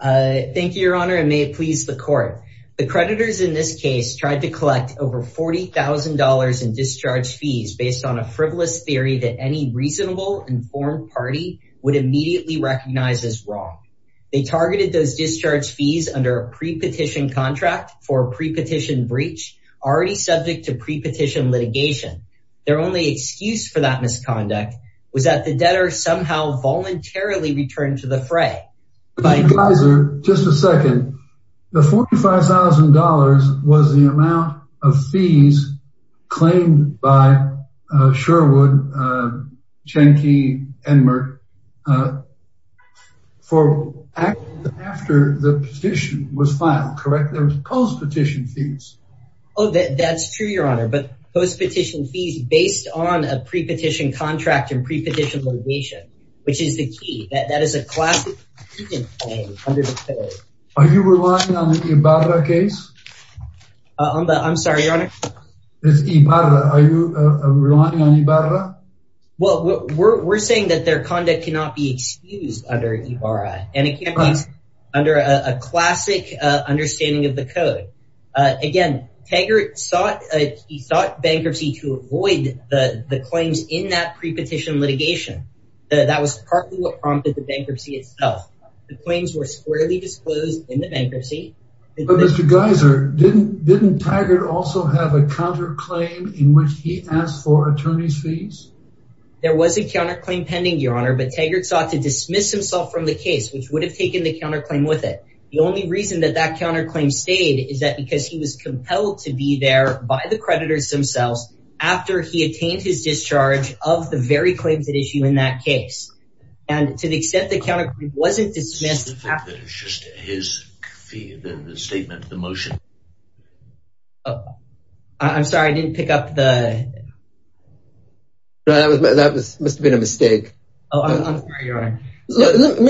The creditors in this case tried to collect over $40,000 in discharge fees based on a frivolous theory that any reasonable, informed party would immediately recognize as wrong. They targeted those discharge fees under a pre-petition contract for a pre-petition breach already subject to pre-petition litigation. Their only excuse for that misconduct was that the debtor somehow voluntarily returned to the fray. The $45,000 was the amount of fees claimed by Sherwood, Chenkey, and Merck for after the petition was filed, correct? There was post-petition fees. Oh, that's true, your honor, but post-petition fees based on a pre-petition contract and pre-petition litigation, which is the key, that is a classic excuse under the code. Are you relying on the Ibarra case? I'm sorry, your honor? It's Ibarra. Are you relying on Ibarra? Well, we're saying that their conduct cannot be excused under Ibarra, and it can't be under a classic understanding of the code. Again, Taggart sought bankruptcy to avoid the claims in that pre-petition litigation. That was partly what prompted the bankruptcy itself. The claims were squarely disclosed in the bankruptcy. But Mr. Geiser, didn't Taggart also have a counterclaim in which he asked for attorney's fees? There was a counterclaim pending, your honor, but Taggart sought to dismiss himself from the case, which would have taken the counterclaim with it. The only reason that that counterclaim stayed is because he was compelled to be there by the creditors themselves after he attained his discharge of the very claims at issue in that case. And to the extent the counterclaim wasn't dismissed... It's just his fee, the statement, the motion. I'm sorry, I didn't pick up the... That must have been a mistake. Oh, I'm sorry, your honor.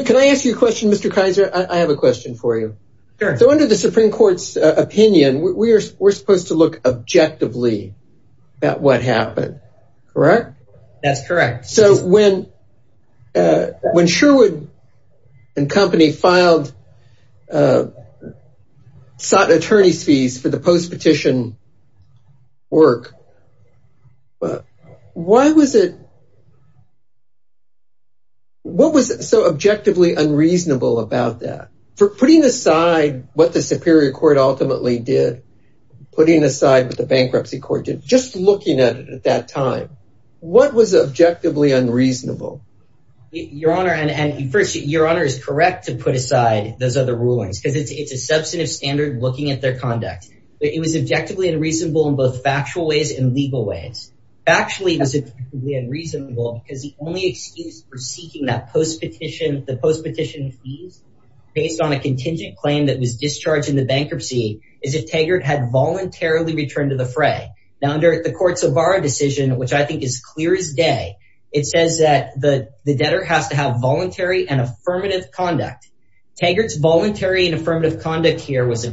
Can I ask you a question, Mr. Geiser? I have a question for you. So under the Supreme Court's opinion, we're supposed to look objectively at what happened, correct? That's correct. So when Sherwood and company filed, sought attorney's fees for the post-petition work, why was it... For putting aside what the Superior Court ultimately did, putting aside what the bankruptcy court did, just looking at it at that time, what was objectively unreasonable? Your honor, and first, your honor is correct to put aside those other rulings because it's a substantive standard looking at their conduct. It was objectively unreasonable in both factual ways and legal ways. Actually, it was unreasonable because the only excuse for seeking that the post-petition fees based on a contingent claim that was discharged in the bankruptcy is if Taggart had voluntarily returned to the fray. Now, under the court's O'Barra decision, which I think is clear as day, it says that the debtor has to have voluntary and affirmative conduct. Taggart's voluntary and affirmative conduct here was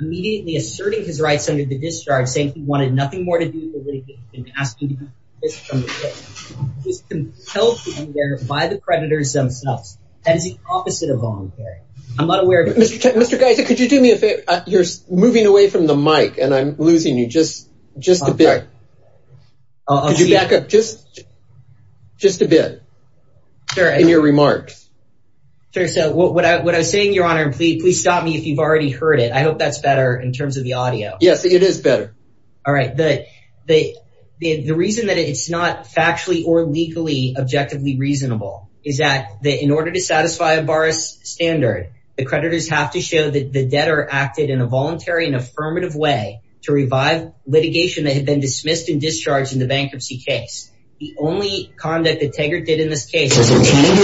immediately asserting his rights under the discharge saying he wanted nothing more to do with the litigation. Asking this from the victim, he's compelled to be there by the predators themselves. That is the opposite of voluntary. I'm not aware of... Mr. Geiser, could you do me a favor? You're moving away from the mic and I'm losing you. Just a bit. Could you back up just a bit in your remarks? Sure. So what I was saying, your honor, please stop me if you've already heard it. I hope that's better in terms of the audio. Yes, it is better. All right. The reason that it's not factually or legally objectively reasonable is that in order to satisfy O'Barra's standard, the creditors have to show that the debtor acted in a voluntary and affirmative way to revive litigation that had been dismissed and discharged in the bankruptcy case. The only conduct that Taggart did in this case was... ...asserting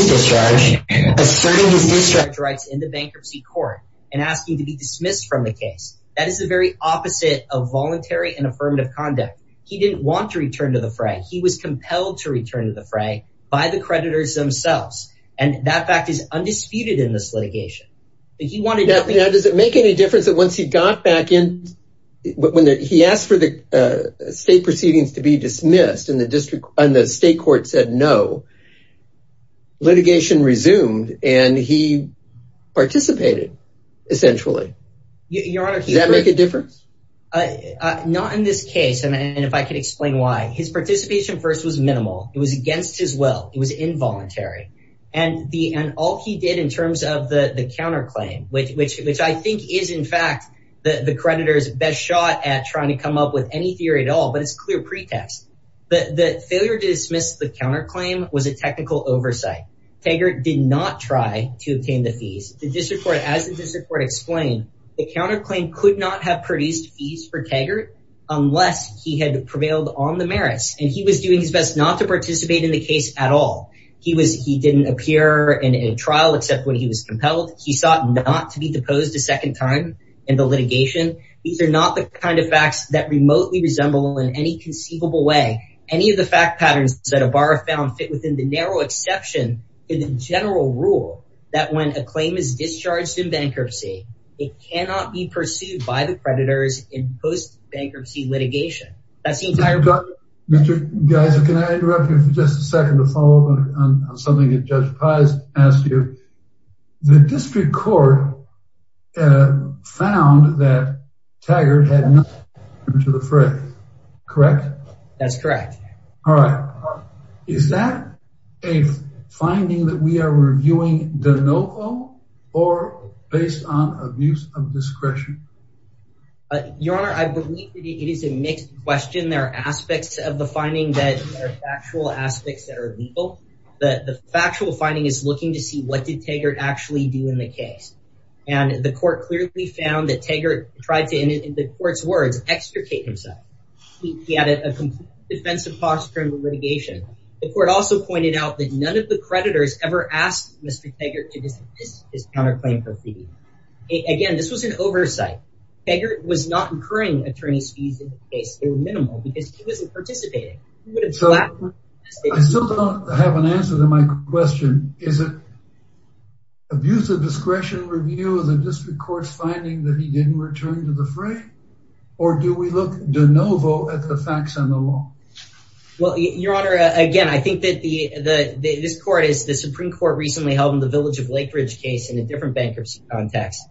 his discharge rights in the bankruptcy court and asking to be dismissed from the case. That is the very opposite of voluntary and affirmative conduct. He didn't want to return to the fray. He was compelled to return to the fray by the creditors themselves. And that fact is undisputed in this litigation. Does it make any difference that once he got back in... He asked for the state proceedings to be dismissed and the state court said no. Litigation resumed and he participated, essentially. Does that make a difference? Not in this case, and if I could explain why. His participation first was minimal. It was against his will. It was involuntary. And all he did in terms of the counterclaim, which I think is, in fact, the creditors' best shot at trying to come up with any theory at all, but it's a clear pretext. The failure to dismiss the counterclaim was a technical oversight. Taggart did not try to obtain the fees. The district court, as the district court explained, the counterclaim could not have produced fees for Taggart unless he had prevailed on the merits. And he was doing his best not to participate in the case at all. He didn't appear in a trial except when he was compelled. He sought not to be deposed a second time in the litigation. These are not the kind of facts that remotely resemble in any conceivable way any of the fact patterns that O'Barra found fit within the narrow exception in the general rule that when a claim is discharged in bankruptcy, it cannot be pursued by the creditors in post-bankruptcy litigation. Mr. Geiser, can I interrupt you for just a second to follow up on something that Judge Paz asked you? The district court found that Taggart had not contributed to the fray, correct? That's correct. All right. Is that a finding that we are reviewing de novo or based on abuse of discretion? Your Honor, I believe it is a mixed question. There are aspects of the finding that are factual aspects that are legal, but the factual finding is looking to see what did Taggart actually do in the case. And the court clearly found that Taggart tried to, in the court's words, extricate himself. He added a complete defensive posture in the litigation. The court also pointed out that none of the creditors ever asked Mr. Taggart to dismiss his counterclaim for fee. Again, this was an oversight. Taggart was not incurring attorney's fees in the case. They were minimal because he wasn't participating. I still don't have an answer to my question. Is it abuse of discretion review of the district court's finding that he didn't return to the fray? Or do we look de novo at the facts and the law? Well, Your Honor, again, I think that the Supreme Court recently held in the Village of Lake Ridge case in a different bankruptcy context.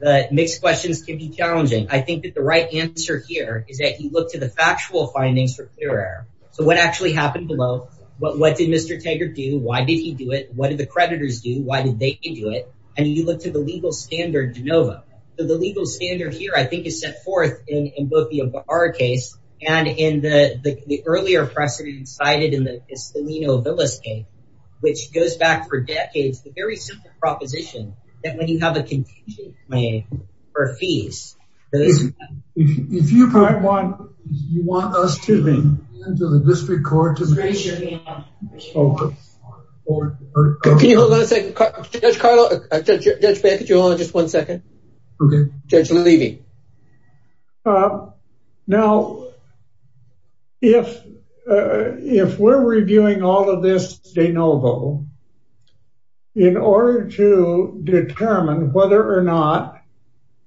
Mixed questions can be challenging. I think that the right answer here is that you look to the factual findings for clear error. So what actually happened below? What did Mr. Taggart do? Why did he do it? What did the creditors do? Why did they do it? And you look to the legal standard de novo. So the legal standard here, I think, is set forth in both our case and in the earlier precedent cited in the Estolino Villa case, which goes back for decades. The very simple proposition that when you have a contingent claim for fees. If you want us to go to the district court. Raise your hand. Can you hold on a second? Judge Bancroft, could you hold on just one second? Judge Levy. Now, if we're reviewing all of this de novo, in order to determine whether or not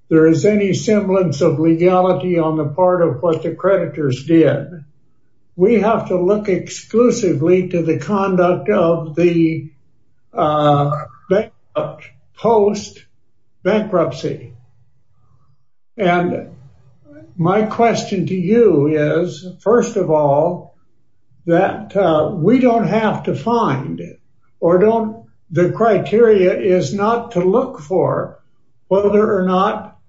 there is any semblance of legality on the part of what the creditors did, we have to look exclusively to the conduct of the post-bankruptcy. And my question to you is, first of all, that we don't have to find or don't the criteria is not to look for whether or not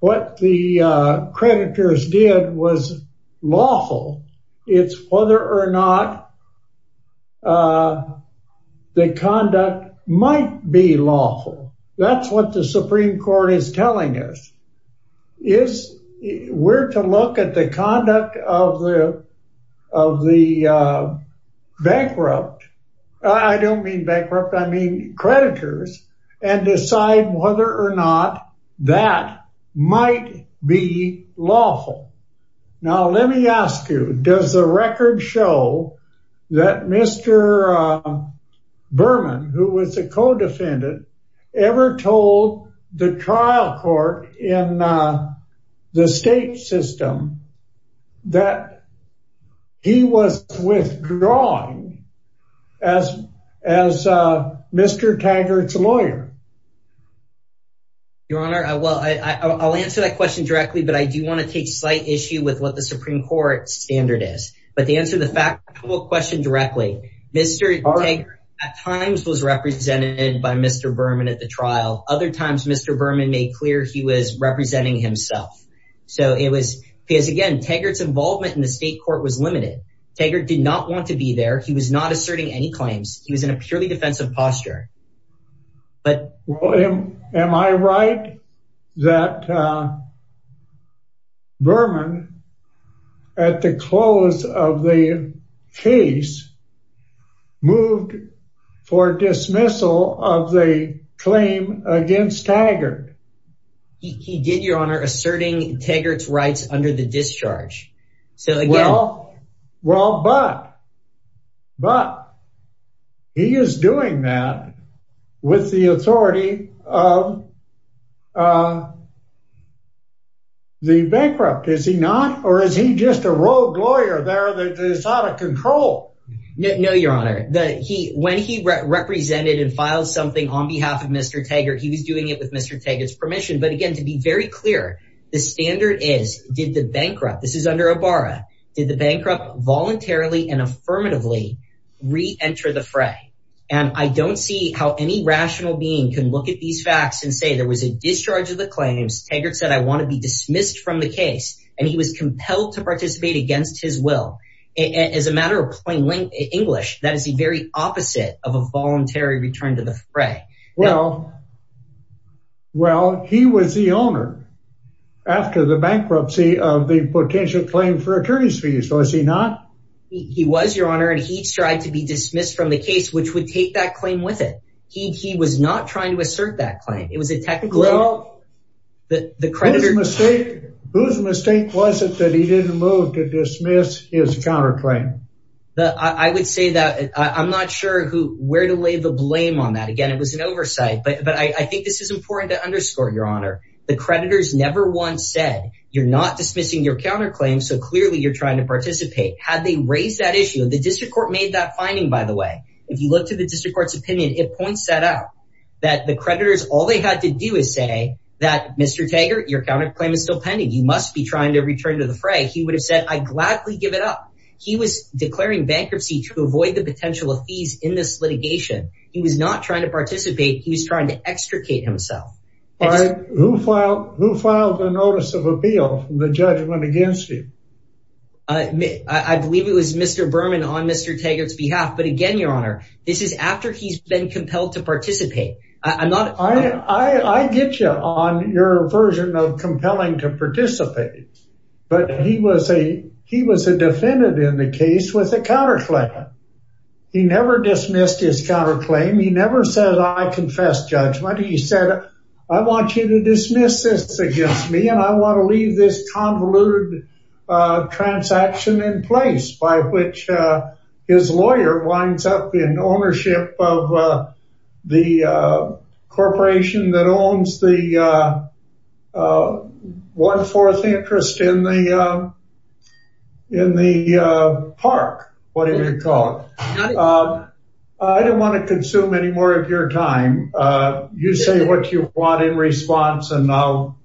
what the creditors did was lawful. It's whether or not the conduct might be lawful. That's what the Supreme Court is telling us. We're to look at the conduct of the bankrupt. I don't mean bankrupt, I mean creditors. And decide whether or not that might be lawful. Now, let me ask you, does the record show that Mr. Berman, who was a co-defendant, ever told the trial court in the state system that he was withdrawn as Mr. Taggart's lawyer? Your Honor, I'll answer that question directly, but I do want to take a slight issue with what the Supreme Court standard is. But to answer the factual question directly, Mr. Taggart at times was represented by Mr. Berman at the trial. Other times, Mr. Berman made clear he was representing himself. So it was because, again, Taggart's involvement in the state court was limited. Taggart did not want to be there. He was not asserting any claims. He was in a purely defensive posture. Am I right that Berman, at the close of the case, moved for dismissal of the claim against Taggart? He did, Your Honor, asserting Taggart's rights under the discharge. Well, but he is doing that with the authority of the bankrupt, is he not? Or is he just a rogue lawyer there that is out of control? No, Your Honor. When he represented and filed something on behalf of Mr. Taggart, he was doing it with Mr. Taggart's permission. But again, to be very clear, the standard is, did the bankrupt, this is under OBARA, did the bankrupt voluntarily and affirmatively re-enter the fray? And I don't see how any rational being can look at these facts and say there was a discharge of the claims. Taggart said, I want to be dismissed from the case. And he was compelled to participate against his will. As a matter of plain English, that is the very opposite of a voluntary return to the fray. Well, he was the owner after the bankruptcy of the potential claim for attorneys fees, was he not? He was, Your Honor, and he tried to be dismissed from the case, which would take that claim with he was not trying to assert that claim. It was a technical. Whose mistake was it that he didn't move to dismiss his counterclaim? I would say that I'm not sure where to lay the blame on that. Again, it was an oversight, but I think this is important to underscore, Your Honor. The creditors never once said, you're not dismissing your counterclaim, so clearly you're trying to participate. Had they raised that issue, the district court made that finding, by the way. If you look to district court's opinion, it points that out. That the creditors, all they had to do is say that, Mr. Taggart, your counterclaim is still pending. You must be trying to return to the fray. He would have said, I'd gladly give it up. He was declaring bankruptcy to avoid the potential of fees in this litigation. He was not trying to participate. He was trying to extricate himself. Who filed the notice of appeal from the judgment against him? I believe it was Mr. Berman on Mr. Taggart's behalf, but again, Your Honor, this is after he's been compelled to participate. I get you on your version of compelling to participate, but he was a defendant in the case with a counterclaim. He never dismissed his counterclaim. He never said, I confess judgment. He said, I want you to dismiss this against me, and I want to leave this convoluted transaction in place by which his lawyer winds up in ownership of the corporation that owns the one-fourth interest in the park, whatever you call it. I don't want to consume any more of your time. You say what you want in response and I'll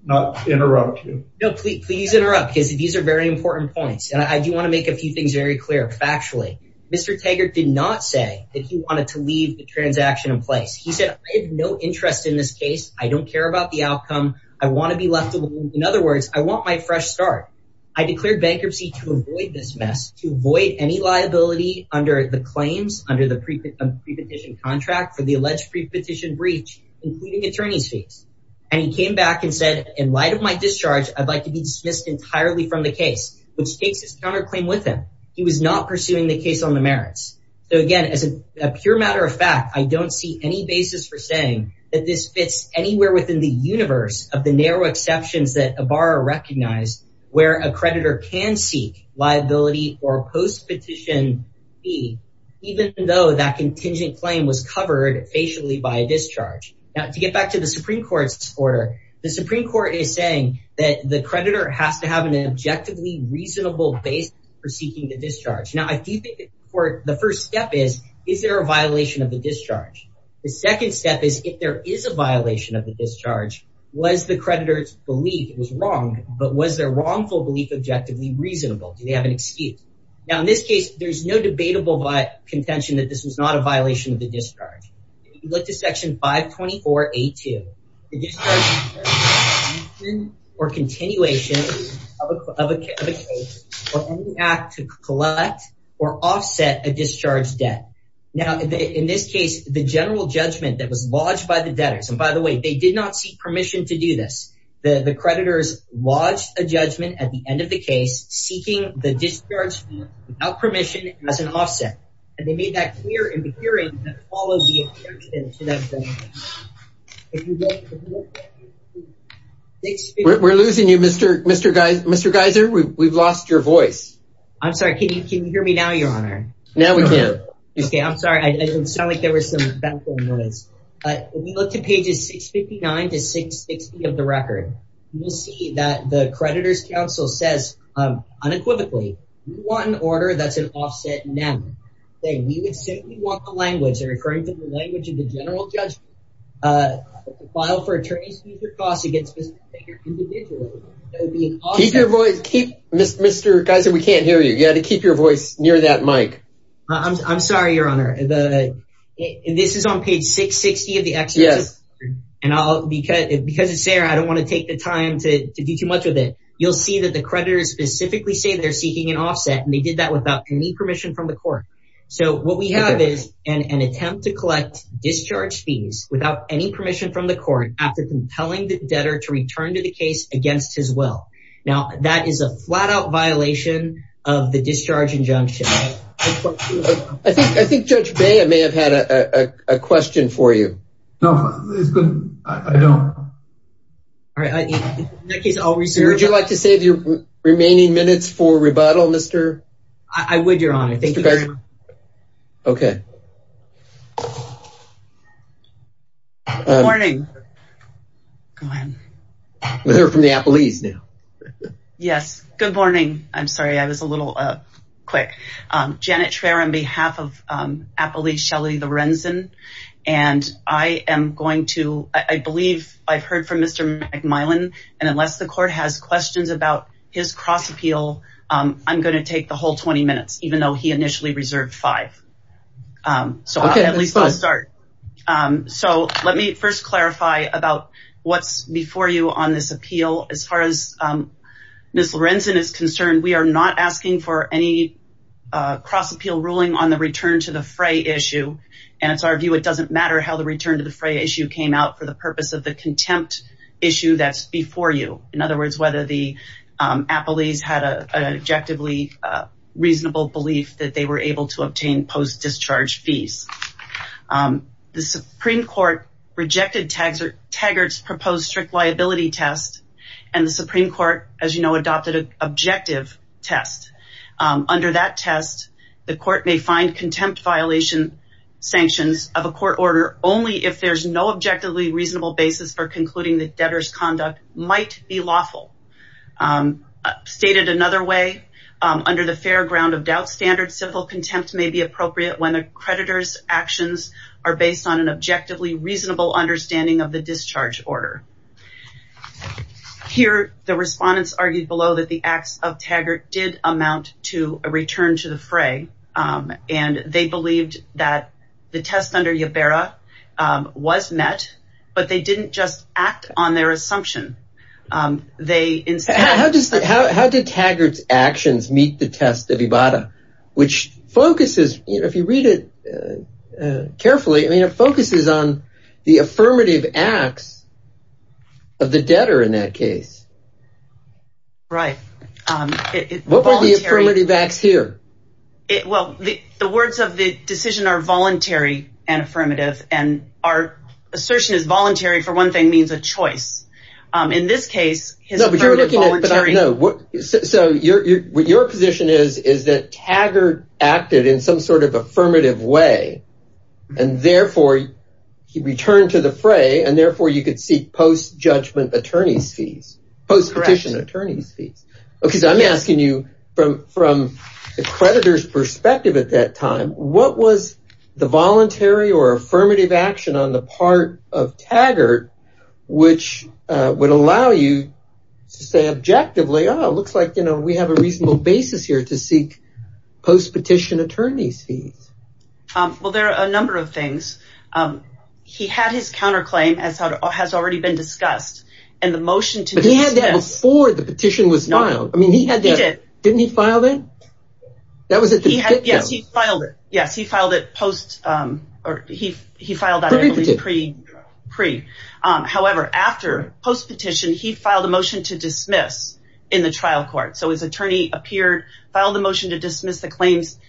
interrupt you. Please interrupt because these are very important points. I do want to make a few things very clear factually. Mr. Taggart did not say that he wanted to leave the transaction in place. He said, I have no interest in this case. I don't care about the outcome. I want to be left alone. In other words, I want my fresh start. I declared bankruptcy to avoid this mess, to avoid any liability under the claims, under the pre-petition contract for the alleged pre-petition breach, including attorney's fees. He came back and said, in light of my discharge, I'd like to be dismissed entirely from the case, which takes his counterclaim with him. He was not pursuing the case on the merits. Again, as a pure matter of fact, I don't see any basis for saying that this fits anywhere within the universe of the narrow exceptions that a borrower recognized, where a creditor can seek liability or post-petition fee, even though that contingent claim was covered facially by a discharge. Now, to get back to the Supreme Court's order, the Supreme Court is saying that the creditor has to have an objectively reasonable basis for seeking the discharge. Now, I do think the first step is, is there a violation of the discharge? The second step is, if there is a violation of the discharge, was the creditor's belief was wrong, but was their wrongful belief objectively reasonable? Do they have an excuse? Now, in this case, there's no debatable by contention that this was not a violation of the discharge. If you look to section 524A2, the discharge or continuation of a case or any act to collect or offset a discharge debt. Now, in this case, the general judgment that was lodged by the debtors, and by the way, they did not seek permission to do this. The creditors lodged a judgment at the end of the case seeking the discharge without permission as an offset, and they made that clear in the hearing that follows the exception to that judgment. We're losing you, Mr. Geiser. We've lost your voice. I'm sorry. Can you hear me now, Your Honor? Now, we can. Okay, I'm sorry. I didn't sound like there was some background noise, but if you look to pages 659 to 660 of the record, you'll see that the creditor's counsel says unequivocally, we want an order that's an offset now. We would simply want the language, they're referring to the language of the general judgment, filed for attorney's fees or costs against Mr. Baker individually. That would be an offset. Keep your voice. Mr. Geiser, we can't hear you. You got to keep your voice near that mic. I'm sorry, Your Honor. This is on page 660 of the exception, and because it's there, I don't want to take the time to do too much with it. You'll see that the creditors specifically say they're seeking an offset, and they did that without any permission from the court. What we have is an attempt to collect discharge fees without any permission from the court after compelling the debtor to return to the case against his will. Now, that is a flat-out violation of the discharge injunction. I think Judge Bea may have had a question for you. No, it's good. I don't. All right. In that case, I'll reserve it. Would you like to save your remaining minutes for rebuttal, Mr.? I would, Your Honor. Thank you very much. Okay. Good morning. Go ahead. We're from the Appellees now. Yes. Good morning. I'm sorry. I was a little quick. Janet Traer on behalf of Appellee Shelly Lorenzen, and I am going to—I believe I've heard from Mr. McMillan, and unless the court has questions about his cross-appeal, I'm going to take the whole 20 minutes, even though he initially reserved five. So, at least I'll start. So, let me first clarify about what's before you on this appeal. As far as Ms. Lorenzen is concerned, we are not asking for any cross-appeal ruling on the return to the fray issue, and it's our view it doesn't matter how the return to the fray issue came out for the purpose of the contempt issue that's before you. In other words, whether the Appellees had an objectively reasonable belief that they were able to obtain post-discharge fees. The Supreme Court rejected Taggart's proposed strict liability test, and the Supreme Court, as you know, adopted an objective test. Under that test, the court may find contempt violation sanctions of a court order only if there's no objectively reasonable basis for concluding that debtor's conduct might be lawful. Stated another way, under the fair ground of doubt standard, civil contempt may be appropriate when the creditor's actions are based on an objectively reasonable understanding of the discharge order. Here, the respondents argued below that the acts of Taggart did amount to a return to the fray, and they believed that the test under Iberra was met, but they didn't just act on their assumption. How did Taggart's actions meet the test of Iberra, which focuses, if you read it carefully, I mean it focuses on the affirmative acts of the debtor in that case. What were the affirmative acts here? Well, the words of the decision are voluntary and in this case... So, what your position is, is that Taggart acted in some sort of affirmative way, and therefore he returned to the fray, and therefore you could seek post-judgment attorney's fees, post-petition attorney's fees. Because I'm asking you from the creditor's perspective at that time, to allow you to say objectively, oh, it looks like we have a reasonable basis here to seek post-petition attorney's fees. Well, there are a number of things. He had his counterclaim, as has already been discussed, and the motion to... But he had that before the petition was filed. I mean, he had that... He did. Didn't he file that? That was at the... Yes, he filed it. Yes, he filed a motion to dismiss in the trial court. So, his attorney appeared, filed a motion to dismiss the claims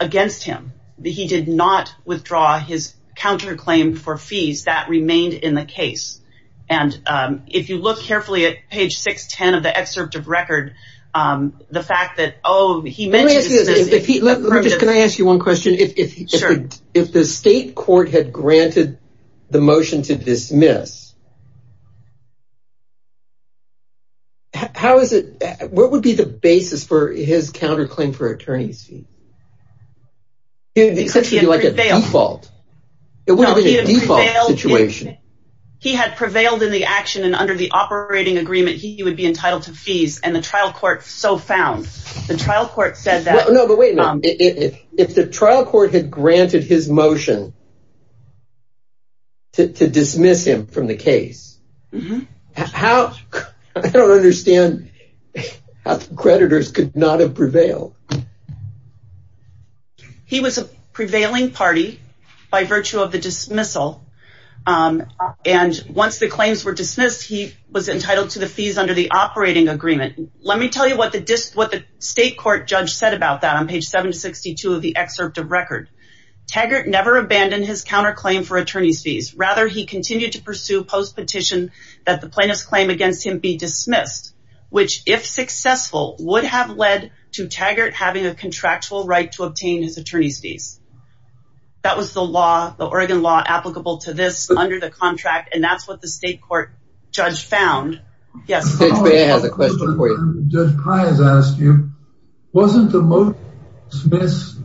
against him. He did not withdraw his counterclaim for fees. That remained in the case, and if you look carefully at page 610 of the excerpt of record, the fact that, oh, he mentioned... Can I ask you one question? If the state court had granted the motion to dismiss, how is it... What would be the basis for his counterclaim for attorney's fees? He said it would be like a default. It wouldn't be a default situation. He had prevailed in the action, and under the operating agreement, he would be entitled to fees, and the trial court so found. The trial court said that... No, but wait a minute. If the trial court had granted his motion to dismiss him from the case, how... I don't understand how the creditors could not have prevailed. He was a prevailing party by virtue of the dismissal, and once the claims were dismissed, he was entitled to the fees under the operating agreement. Let me tell you what the state court judge said about that on page 762 of the excerpt of record. Taggart never abandoned his counterclaim for attorney's fees. Rather, he continued to pursue post-petition that the plaintiff's claim against him be dismissed, which, if successful, would have led to Taggart having a contractual right to obtain his attorney's fees. That was the law, the Oregon law, applicable to this under the contract, and that's what the judge has asked you. Wasn't the motion dismissed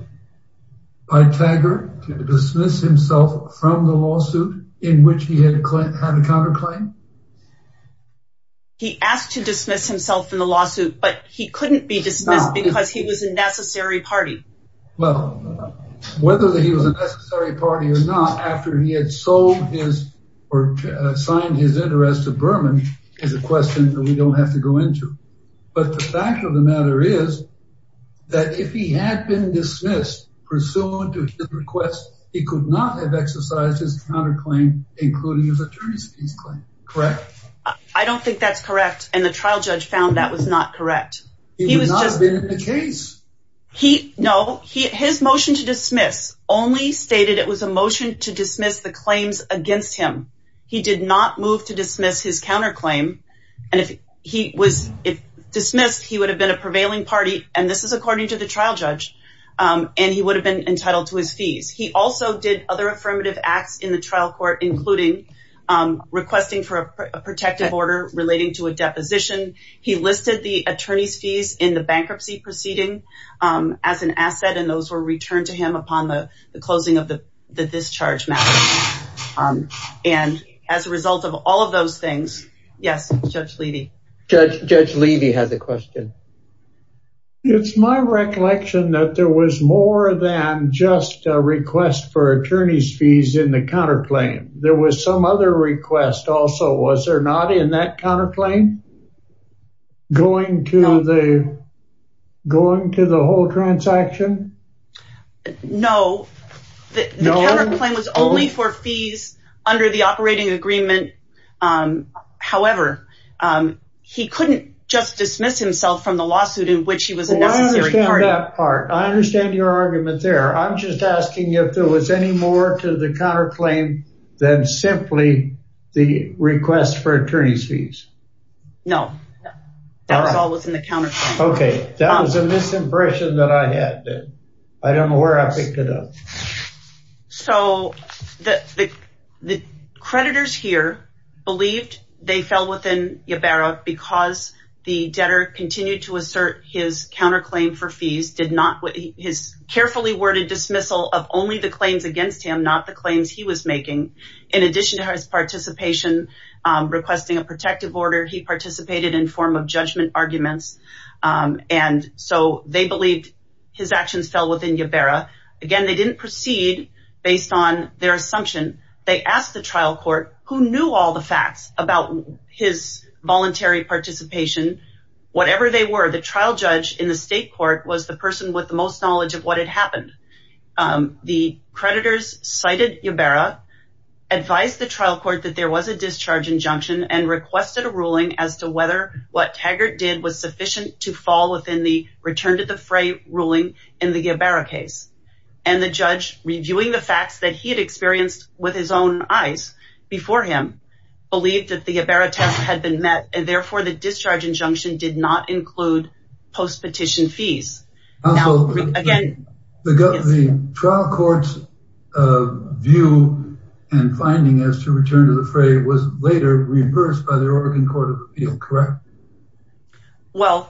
by Taggart to dismiss himself from the lawsuit in which he had a claim, had a counterclaim? He asked to dismiss himself in the lawsuit, but he couldn't be dismissed because he was a necessary party. Well, whether he was a necessary party or not, after he had sold his or signed his interest to Berman is a question that we don't have to go into, but the fact of the matter is that if he had been dismissed pursuant to his request, he could not have exercised his counterclaim, including his attorney's fees claim, correct? I don't think that's correct, and the trial judge found that was not correct. He was not in the case. No, his motion to dismiss only stated it was a motion to dismiss the claims against him. He did not move to dismiss his counterclaim, and if he was dismissed, he would have been a prevailing party, and this is according to the trial judge, and he would have been entitled to his fees. He also did other affirmative acts in the trial court, including requesting for a protective order relating to a deposition. He listed the attorney's fees in the bankruptcy proceeding as an asset, and those were returned to him upon the closing of the discharge matter, and as a result of all of those things, yes, Judge Levy. Judge Levy has a question. It's my recollection that there was more than just a request for attorney's fees in the counterclaim. There was some other request also. Was there not in that counterclaim going to the whole transaction? No, the counterclaim was only for fees under the operating agreement. However, he couldn't just dismiss himself from the lawsuit in which he was a necessary party. I understand that part. I understand your argument there. I'm just asking if there was any more to the counterclaim than simply the request for attorney's fees. No, that was all within the counterclaim. Okay, that was a misimpression that I had then. I don't know where I picked it up. So, the creditors here believed they fell within Ybarra because the debtor continued to assert his counterclaim for fees. He carefully worded of only the claims against him, not the claims he was making. In addition to his participation requesting a protective order, he participated in form of judgment arguments. And so, they believed his actions fell within Ybarra. Again, they didn't proceed based on their assumption. They asked the trial court who knew all the facts about his voluntary participation. Whatever they were, the trial judge in the state court was the person with the most knowledge of what had happened. The creditors cited Ybarra, advised the trial court that there was a discharge injunction, and requested a ruling as to whether what Taggart did was sufficient to fall within the return to the fray ruling in the Ybarra case. And the judge, reviewing the facts that he had experienced with his own eyes before him, believed that the Ybarra test had been met, and therefore the discharge injunction did not include post-petition fees. Again, the trial court's view and finding as to return to the fray was later reversed by the Oregon Court of Appeals, correct? Well,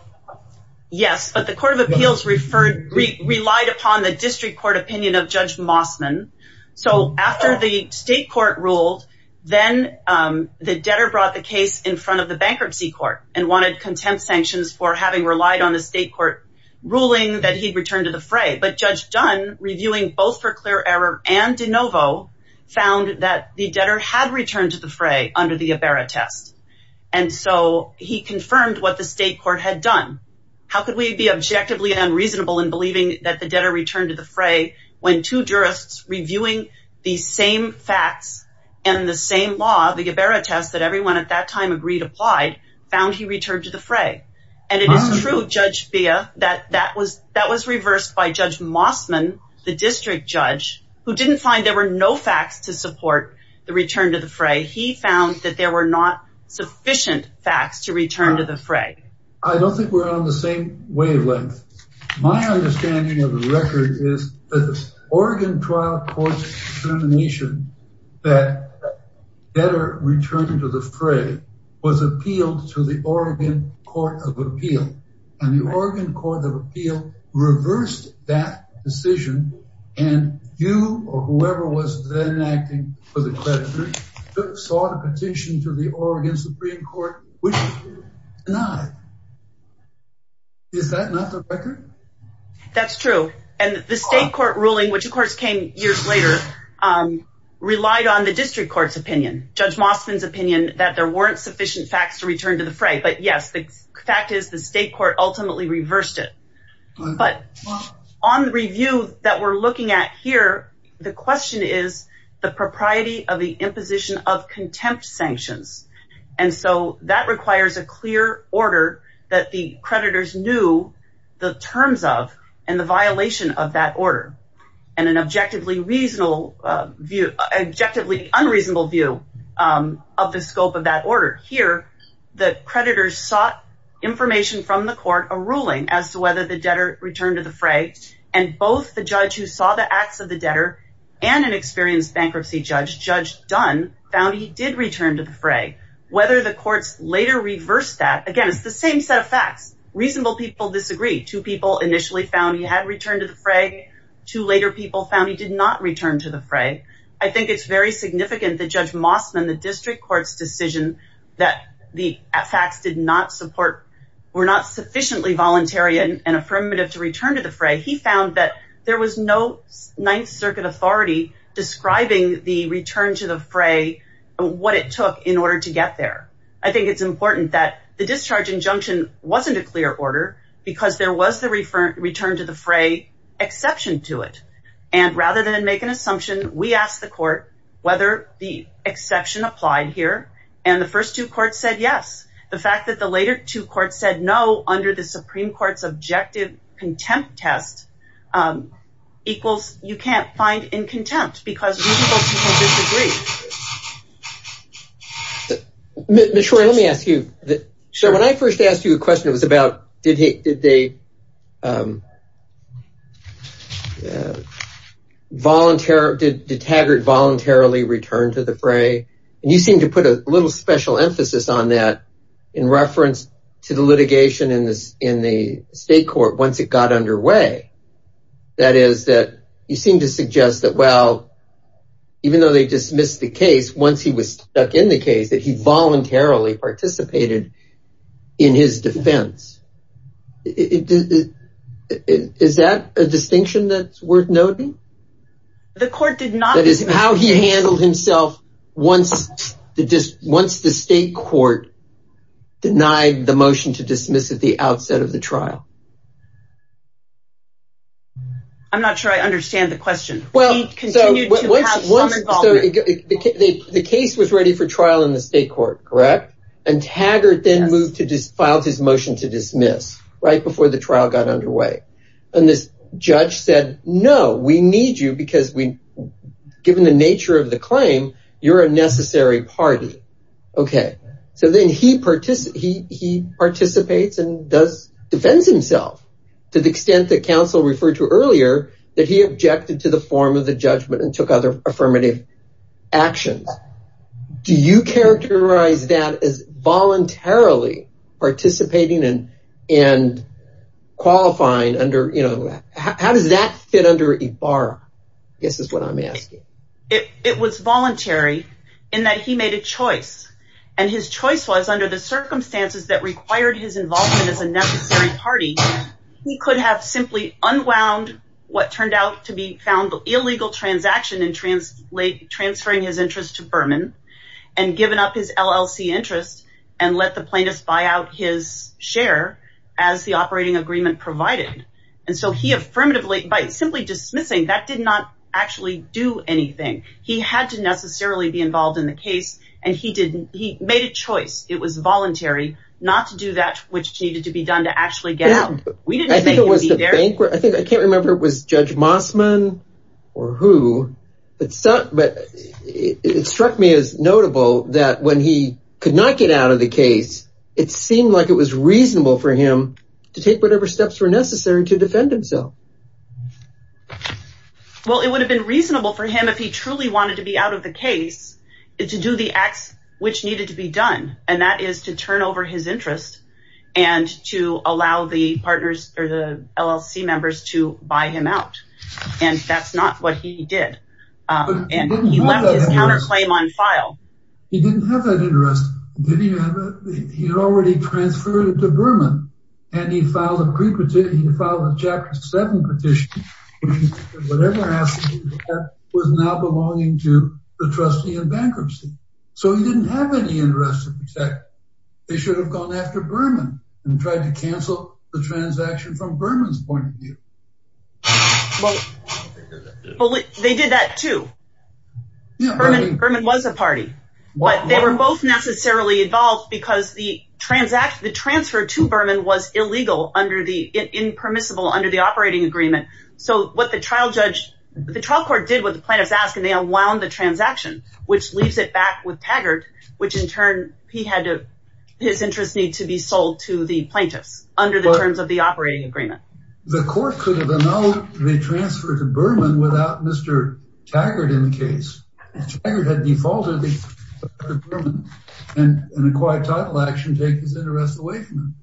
yes, but the Court of Appeals relied upon the district court opinion of Judge Mossman. So, after the state court ruled, then the debtor brought the case in front of the bankruptcy court and wanted contempt sanctions for having relied on the state court ruling that he'd returned to the fray. But Judge Dunn, reviewing both for clear error and de novo, found that the debtor had returned to the fray under the Ybarra test. And so, he confirmed what the state court had done. How could we be objectively unreasonable in believing that the debtor returned to the fray when two jurists reviewing the same facts and the same law, the Ybarra test that everyone at that time agreed applied, found he returned to the fray? And it is true, Judge Bia, that that was reversed by Judge Mossman, the district judge, who didn't find there were no facts to support the return to the fray. He found that there were not sufficient facts to return to the fray. I don't think we're on the wavelength. My understanding of the record is that the Oregon trial court's determination that the debtor returned to the fray was appealed to the Oregon Court of Appeal. And the Oregon Court of Appeal reversed that decision. And you or whoever was then acting for the creditor sought a petition to the Oregon Supreme Court, which was denied. Is that not the record? That's true. And the state court ruling, which of course came years later, relied on the district court's opinion, Judge Mossman's opinion, that there weren't sufficient facts to return to the fray. But yes, the fact is the state court ultimately reversed it. But on the review that we're looking at here, the question is the propriety of the imposition of contempt sanctions. And so that requires a clear order that the creditors knew the terms of and the violation of that order and an objectively unreasonable view of the scope of that order. Here, the creditors sought information from the court, a ruling as to whether the debtor returned to fray. And both the judge who saw the acts of the debtor and an experienced bankruptcy judge, Judge Dunn, found he did return to the fray. Whether the courts later reversed that, again, it's the same set of facts. Reasonable people disagree. Two people initially found he had returned to the fray. Two later people found he did not return to the fray. I think it's very significant that Judge Mossman, the district court's decision that the facts were not sufficiently voluntary and affirmative to return to the fray, he found that there was no Ninth Circuit authority describing the return to the fray, what it took in order to get there. I think it's important that the discharge injunction wasn't a clear order because there was the return to the fray exception to it. And rather than make an assumption, we asked the court whether the exception applied here. And the first two courts said yes. The fact the later two courts said no, under the Supreme Court's objective contempt test, you can't find in contempt because reasonable people disagree. Troy, let me ask you. When I first asked you a question, it was about did Haggard voluntarily return to the fray? You seem to put a little special emphasis on that in reference to the litigation in the state court once it got underway. That is, you seem to suggest that, well, even though they dismissed the case, once he was stuck in the case, that he voluntarily participated in his defense. Is that a distinction that's worth noting? The court did not. That is how he handled himself once the state court denied the motion to dismiss at the outset of the trial. I'm not sure I understand the question. The case was ready for trial in the state court, correct? And Haggard then filed his motion to dismiss right before the trial got underway. And this judge said, no, we need you because given the nature of the claim, you're a necessary party. Okay. So then he participates and defends himself to the extent that counsel referred to earlier that he objected to the form of the judgment and took other affirmative actions. Do you characterize that as voluntarily participating and qualifying? How does that fit under Ibarra? This is what I'm asking. It was voluntary in that he made a choice. And his choice was under the circumstances that required his involvement as a necessary party, he could have simply unwound what turned out to be found illegal transaction in transferring his interest to Berman and given up his LLC interest and let plaintiffs buy out his share as the operating agreement provided. And so he affirmatively by simply dismissing that did not actually do anything. He had to necessarily be involved in the case. And he made a choice. It was voluntary not to do that, which needed to be done to actually get out. I think it was the bank. I can't remember if it was Judge Mossman or who, but it struck me as notable that when he could not get out of the case, it seemed like it was reasonable for him to take whatever steps were necessary to defend himself. Well, it would have been reasonable for him if he truly wanted to be out of the case to do the acts which needed to be done, and that is to turn over his interest and to allow the partners or the LLC members to buy him out. And that's not what he did. And he left his counterclaim on file. He didn't have that interest. He had already transferred it to Berman, and he filed a pre-petition. He filed a Chapter 7 petition. Whatever happened was now belonging to the trustee in bankruptcy. So he didn't have any interest to protect. They should have gone after Berman and tried to cancel the transaction from Berman. Well, they did that too. Berman was a party, but they were both necessarily involved because the transfer to Berman was illegal, impermissible under the operating agreement. So what the trial court did was the plaintiffs asked, and they unwound the transaction, which leaves it back with Taggart, which in turn, his interests need to be sold to the plaintiffs under the terms of the operating agreement. The court could have annulled the transfer to Berman without Mr. Taggart in the case. Taggart had defaulted to Berman, and an acquired title action take his interest away from him.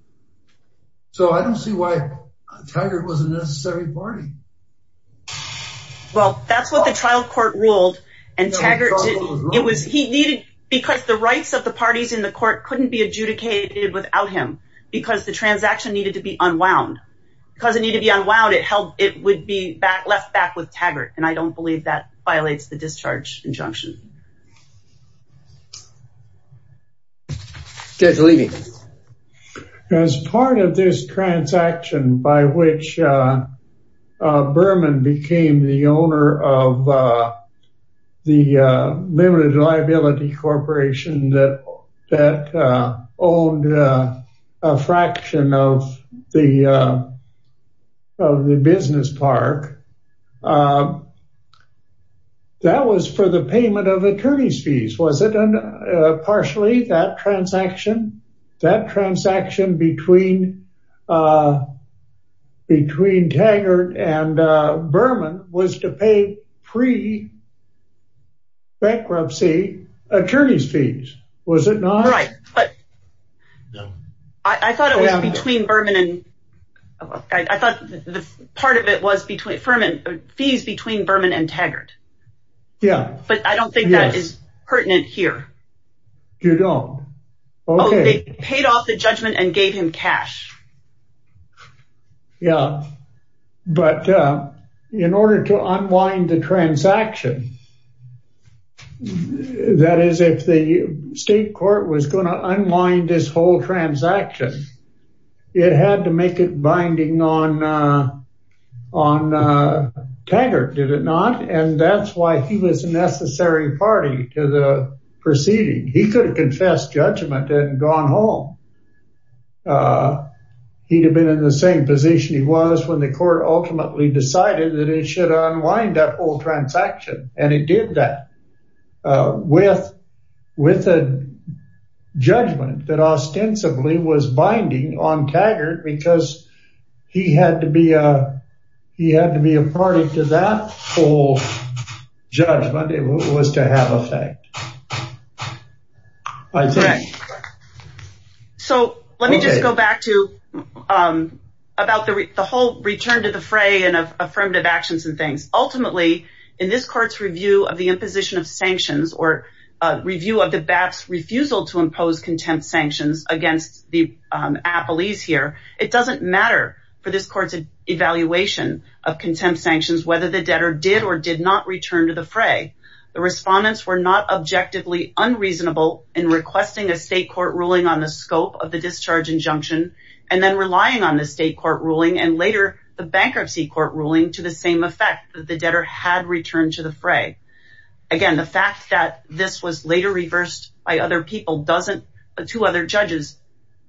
So I don't see why Taggart was a necessary party. Well, that's what the trial court ruled, and Taggart, it was, he needed, because the rights of the parties in the court couldn't be adjudicated without him, because the transaction needed to be unwound. Because it needed to be unwound, it would be left back with Taggart, and I don't believe that violates the discharge injunction. Judge Levy. As part of this transaction by which Berman became the owner of the limited liability corporation that owed a fraction of the business park, that was for the payment of attorney's fees, was it? And partially that transaction, that transaction between Taggart and Berman was to pay pre-bankruptcy attorney's fees, was it not? Right, but I thought it was between Berman and, I thought the part of it was between, fees between Berman and Taggart. Yeah. But I don't think that is pertinent here. You don't? Oh, they paid off the judgment and gave him cash. Yeah, but in order to unwind the transaction, that is, if the state court was going to unwind this whole transaction, it had to make it binding on Taggart, did it not? And that's why he was a necessary party to the proceeding. He could have confessed judgment and gone home. He'd have been in the same position he was when the court ultimately decided that it should unwind that whole transaction, and it did that with a judgment that ostensibly was binding on Taggart because he had to be a party to that whole judgment. It was to have effect, I think. Correct. So, let me just go back to about the whole return to the fray and affirmative actions and things. Ultimately, in this court's review of the imposition of sanctions, or review of the BAP's refusal to impose contempt sanctions against the appellees here, it doesn't matter for this court's evaluation of contempt sanctions whether the debtor did or did not return to the fray. The respondents were not objectively unreasonable in requesting a state court ruling on the scope of the discharge injunction and then relying on the state court ruling and later the bankruptcy court ruling to the same effect that the debtor had returned to the fray. Again, the fact that this was later reversed by two other judges,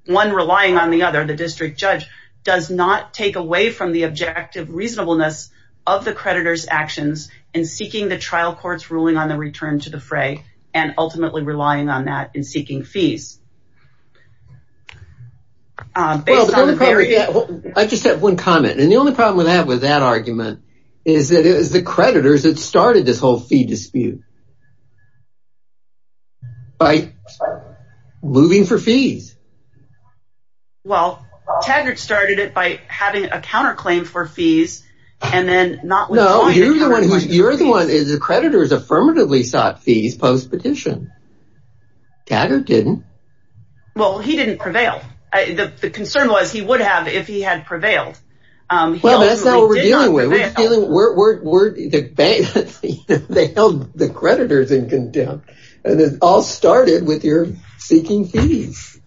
one relying on the other, the district judge, does not take away from the objective reasonableness of the creditor's actions in seeking the trial court's ruling on the return to the fray and ultimately relying on that in seeking fees. I just have one comment, and the only problem I have with that argument is that it was the creditors that started this counterclaim for fees. No, you're the one. The creditors affirmatively sought fees post-petition. Taggart didn't. Well, he didn't prevail. The concern was he would have if he had prevailed. Well, that's not what we're dealing with. They held the creditors in contempt, and it all started with your seeking fees.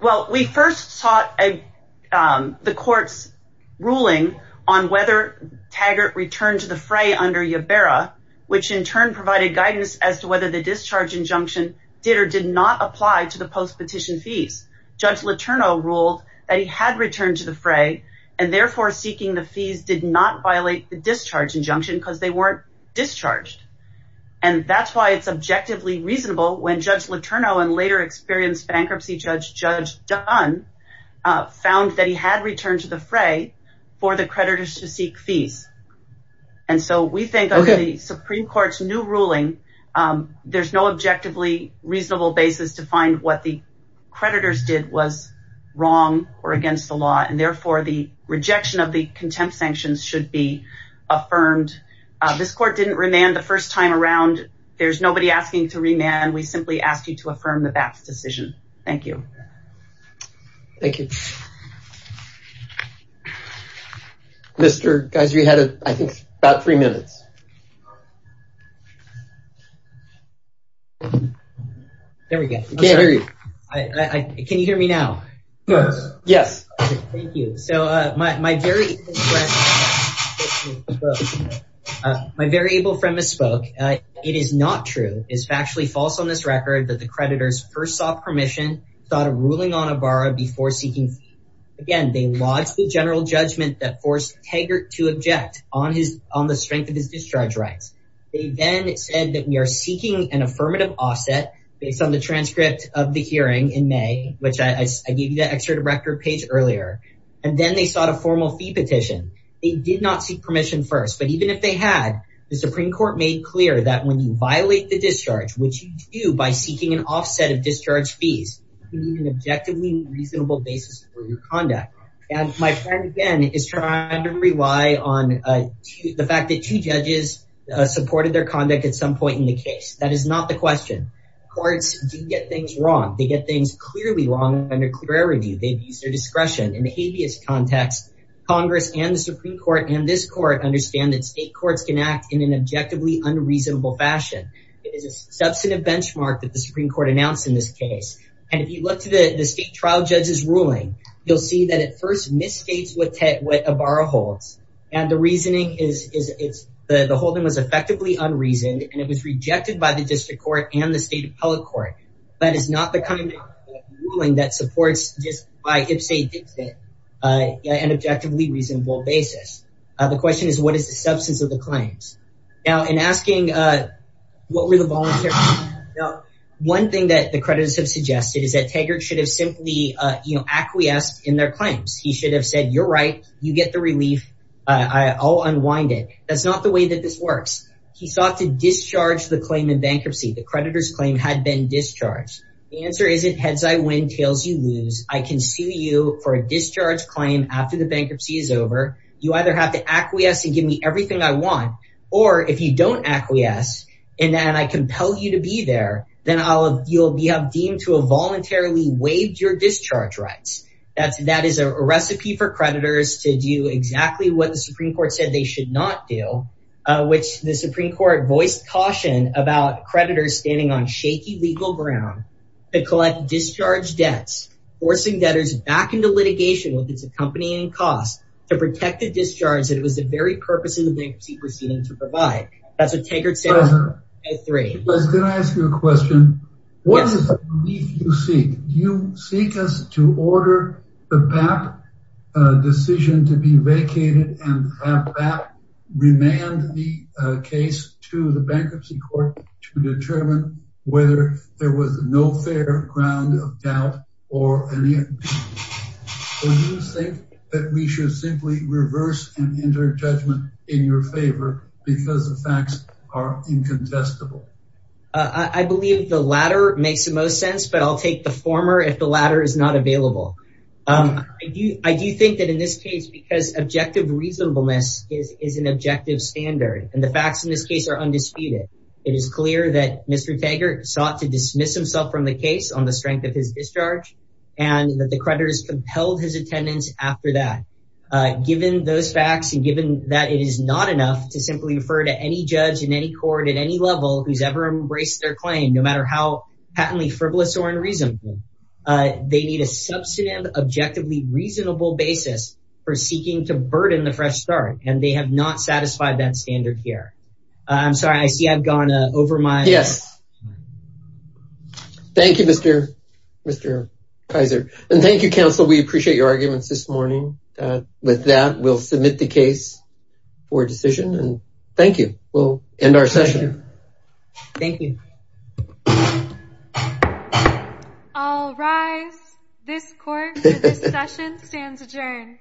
Well, we first sought the court's ruling on whether Taggart returned to the fray under Iberra, which in turn provided guidance as to whether the discharge injunction did or did not apply to the post-petition fees. Judge Letourneau ruled that he had returned to the fray and therefore seeking the fees did not violate the discharge injunction because they weren't discharged. That's why it's objectively reasonable when Judge Letourneau and later experienced bankruptcy judge, Judge Dunn, found that he had returned to the fray for the creditors to seek fees. We think under the Supreme Court's new ruling, there's no objectively reasonable basis to find what the creditors did was wrong or against the law, and therefore the rejection of this court didn't remand the first time around. There's nobody asking to remand. We simply ask you to affirm the BAPT's decision. Thank you. Thank you. Mr. Geiser, you had, I think, about three minutes. There we go. I can't hear you. Can you hear me now? Yes. Thank you. So my very able friend misspoke. It is not true. It is factually false on this record that the creditors first sought permission, sought a ruling on Ibarra before seeking fees. Again, they lodged the general judgment that forced Taggart to object on the strength of his discharge rights. They then said that we are seeking an affirmative offset based on the transcript of the hearing in May, which I gave you the excerpt of record page earlier, and then they sought a formal fee petition. They did not seek permission first, but even if they had, the Supreme Court made clear that when you violate the discharge, which you do by seeking an offset of discharge fees, you need an objectively reasonable basis for your conduct. And my friend, again, is trying to rely on the fact that two judges supported their conduct at some point in the case. That is not the question. Courts do get things wrong. They get things clearly wrong under clear review. They've used their discretion in the Supreme Court and this court understand that state courts can act in an objectively unreasonable fashion. It is a substantive benchmark that the Supreme Court announced in this case. And if you look to the state trial judge's ruling, you'll see that it first misstates what Ibarra holds. And the reasoning is it's the holding was effectively unreasoned and it was rejected by the district court and the state appellate court. That is not the kind of ruling that supports just by an objectively reasonable basis. The question is what is the substance of the claims? Now, in asking what were the volunteers, one thing that the creditors have suggested is that Taggart should have simply acquiesced in their claims. He should have said, you're right. You get the relief. I'll unwind it. That's not the way that this works. He sought to discharge the claim in bankruptcy. The creditor's claim had been discharged. The answer is it heads I win, I can sue you for a discharge claim after the bankruptcy is over. You either have to acquiesce and give me everything I want, or if you don't acquiesce and then I compel you to be there, then you'll be deemed to have voluntarily waived your discharge rights. That is a recipe for creditors to do exactly what the Supreme Court said they should not do, which the Supreme Court voiced caution about creditors standing on shaky legal ground to collect discharge debts, forcing debtors back into litigation with its accompanying costs to protect the discharge that it was the very purpose of the bankruptcy proceeding to provide. That's what Taggart said. Can I ask you a question? What is the relief you seek? Do you seek us to order the PAP decision to be vacated and have PAP remand the case to the bankruptcy court to determine whether there was no fair ground of doubt or any impeachment? Do you think that we should simply reverse and enter judgment in your favor because the facts are incontestable? I believe the latter makes the most sense, but I'll take the former if the latter is not available. I do think that in this case because objective reasonableness is an objective standard and the facts in this case are undisputed. It is clear that Mr. Taggart sought to dismiss himself from the case on the strength of his discharge and that the creditors compelled his attendance after that. Given those facts and given that it is not enough to simply refer to any judge in any court at any level who's ever embraced their claim, no matter how patently frivolous or unreasonable, they need a substantive, objectively reasonable basis for seeking to burden the fresh start and they have not satisfied that standard here. I'm sorry, I see I've gone over my... Yes. Thank you, Mr. Kaiser, and thank you, counsel. We appreciate your arguments this morning. With that, we'll submit the case for decision and thank you. We'll end our session. Thank you. I'll rise. This court, this session stands adjourned.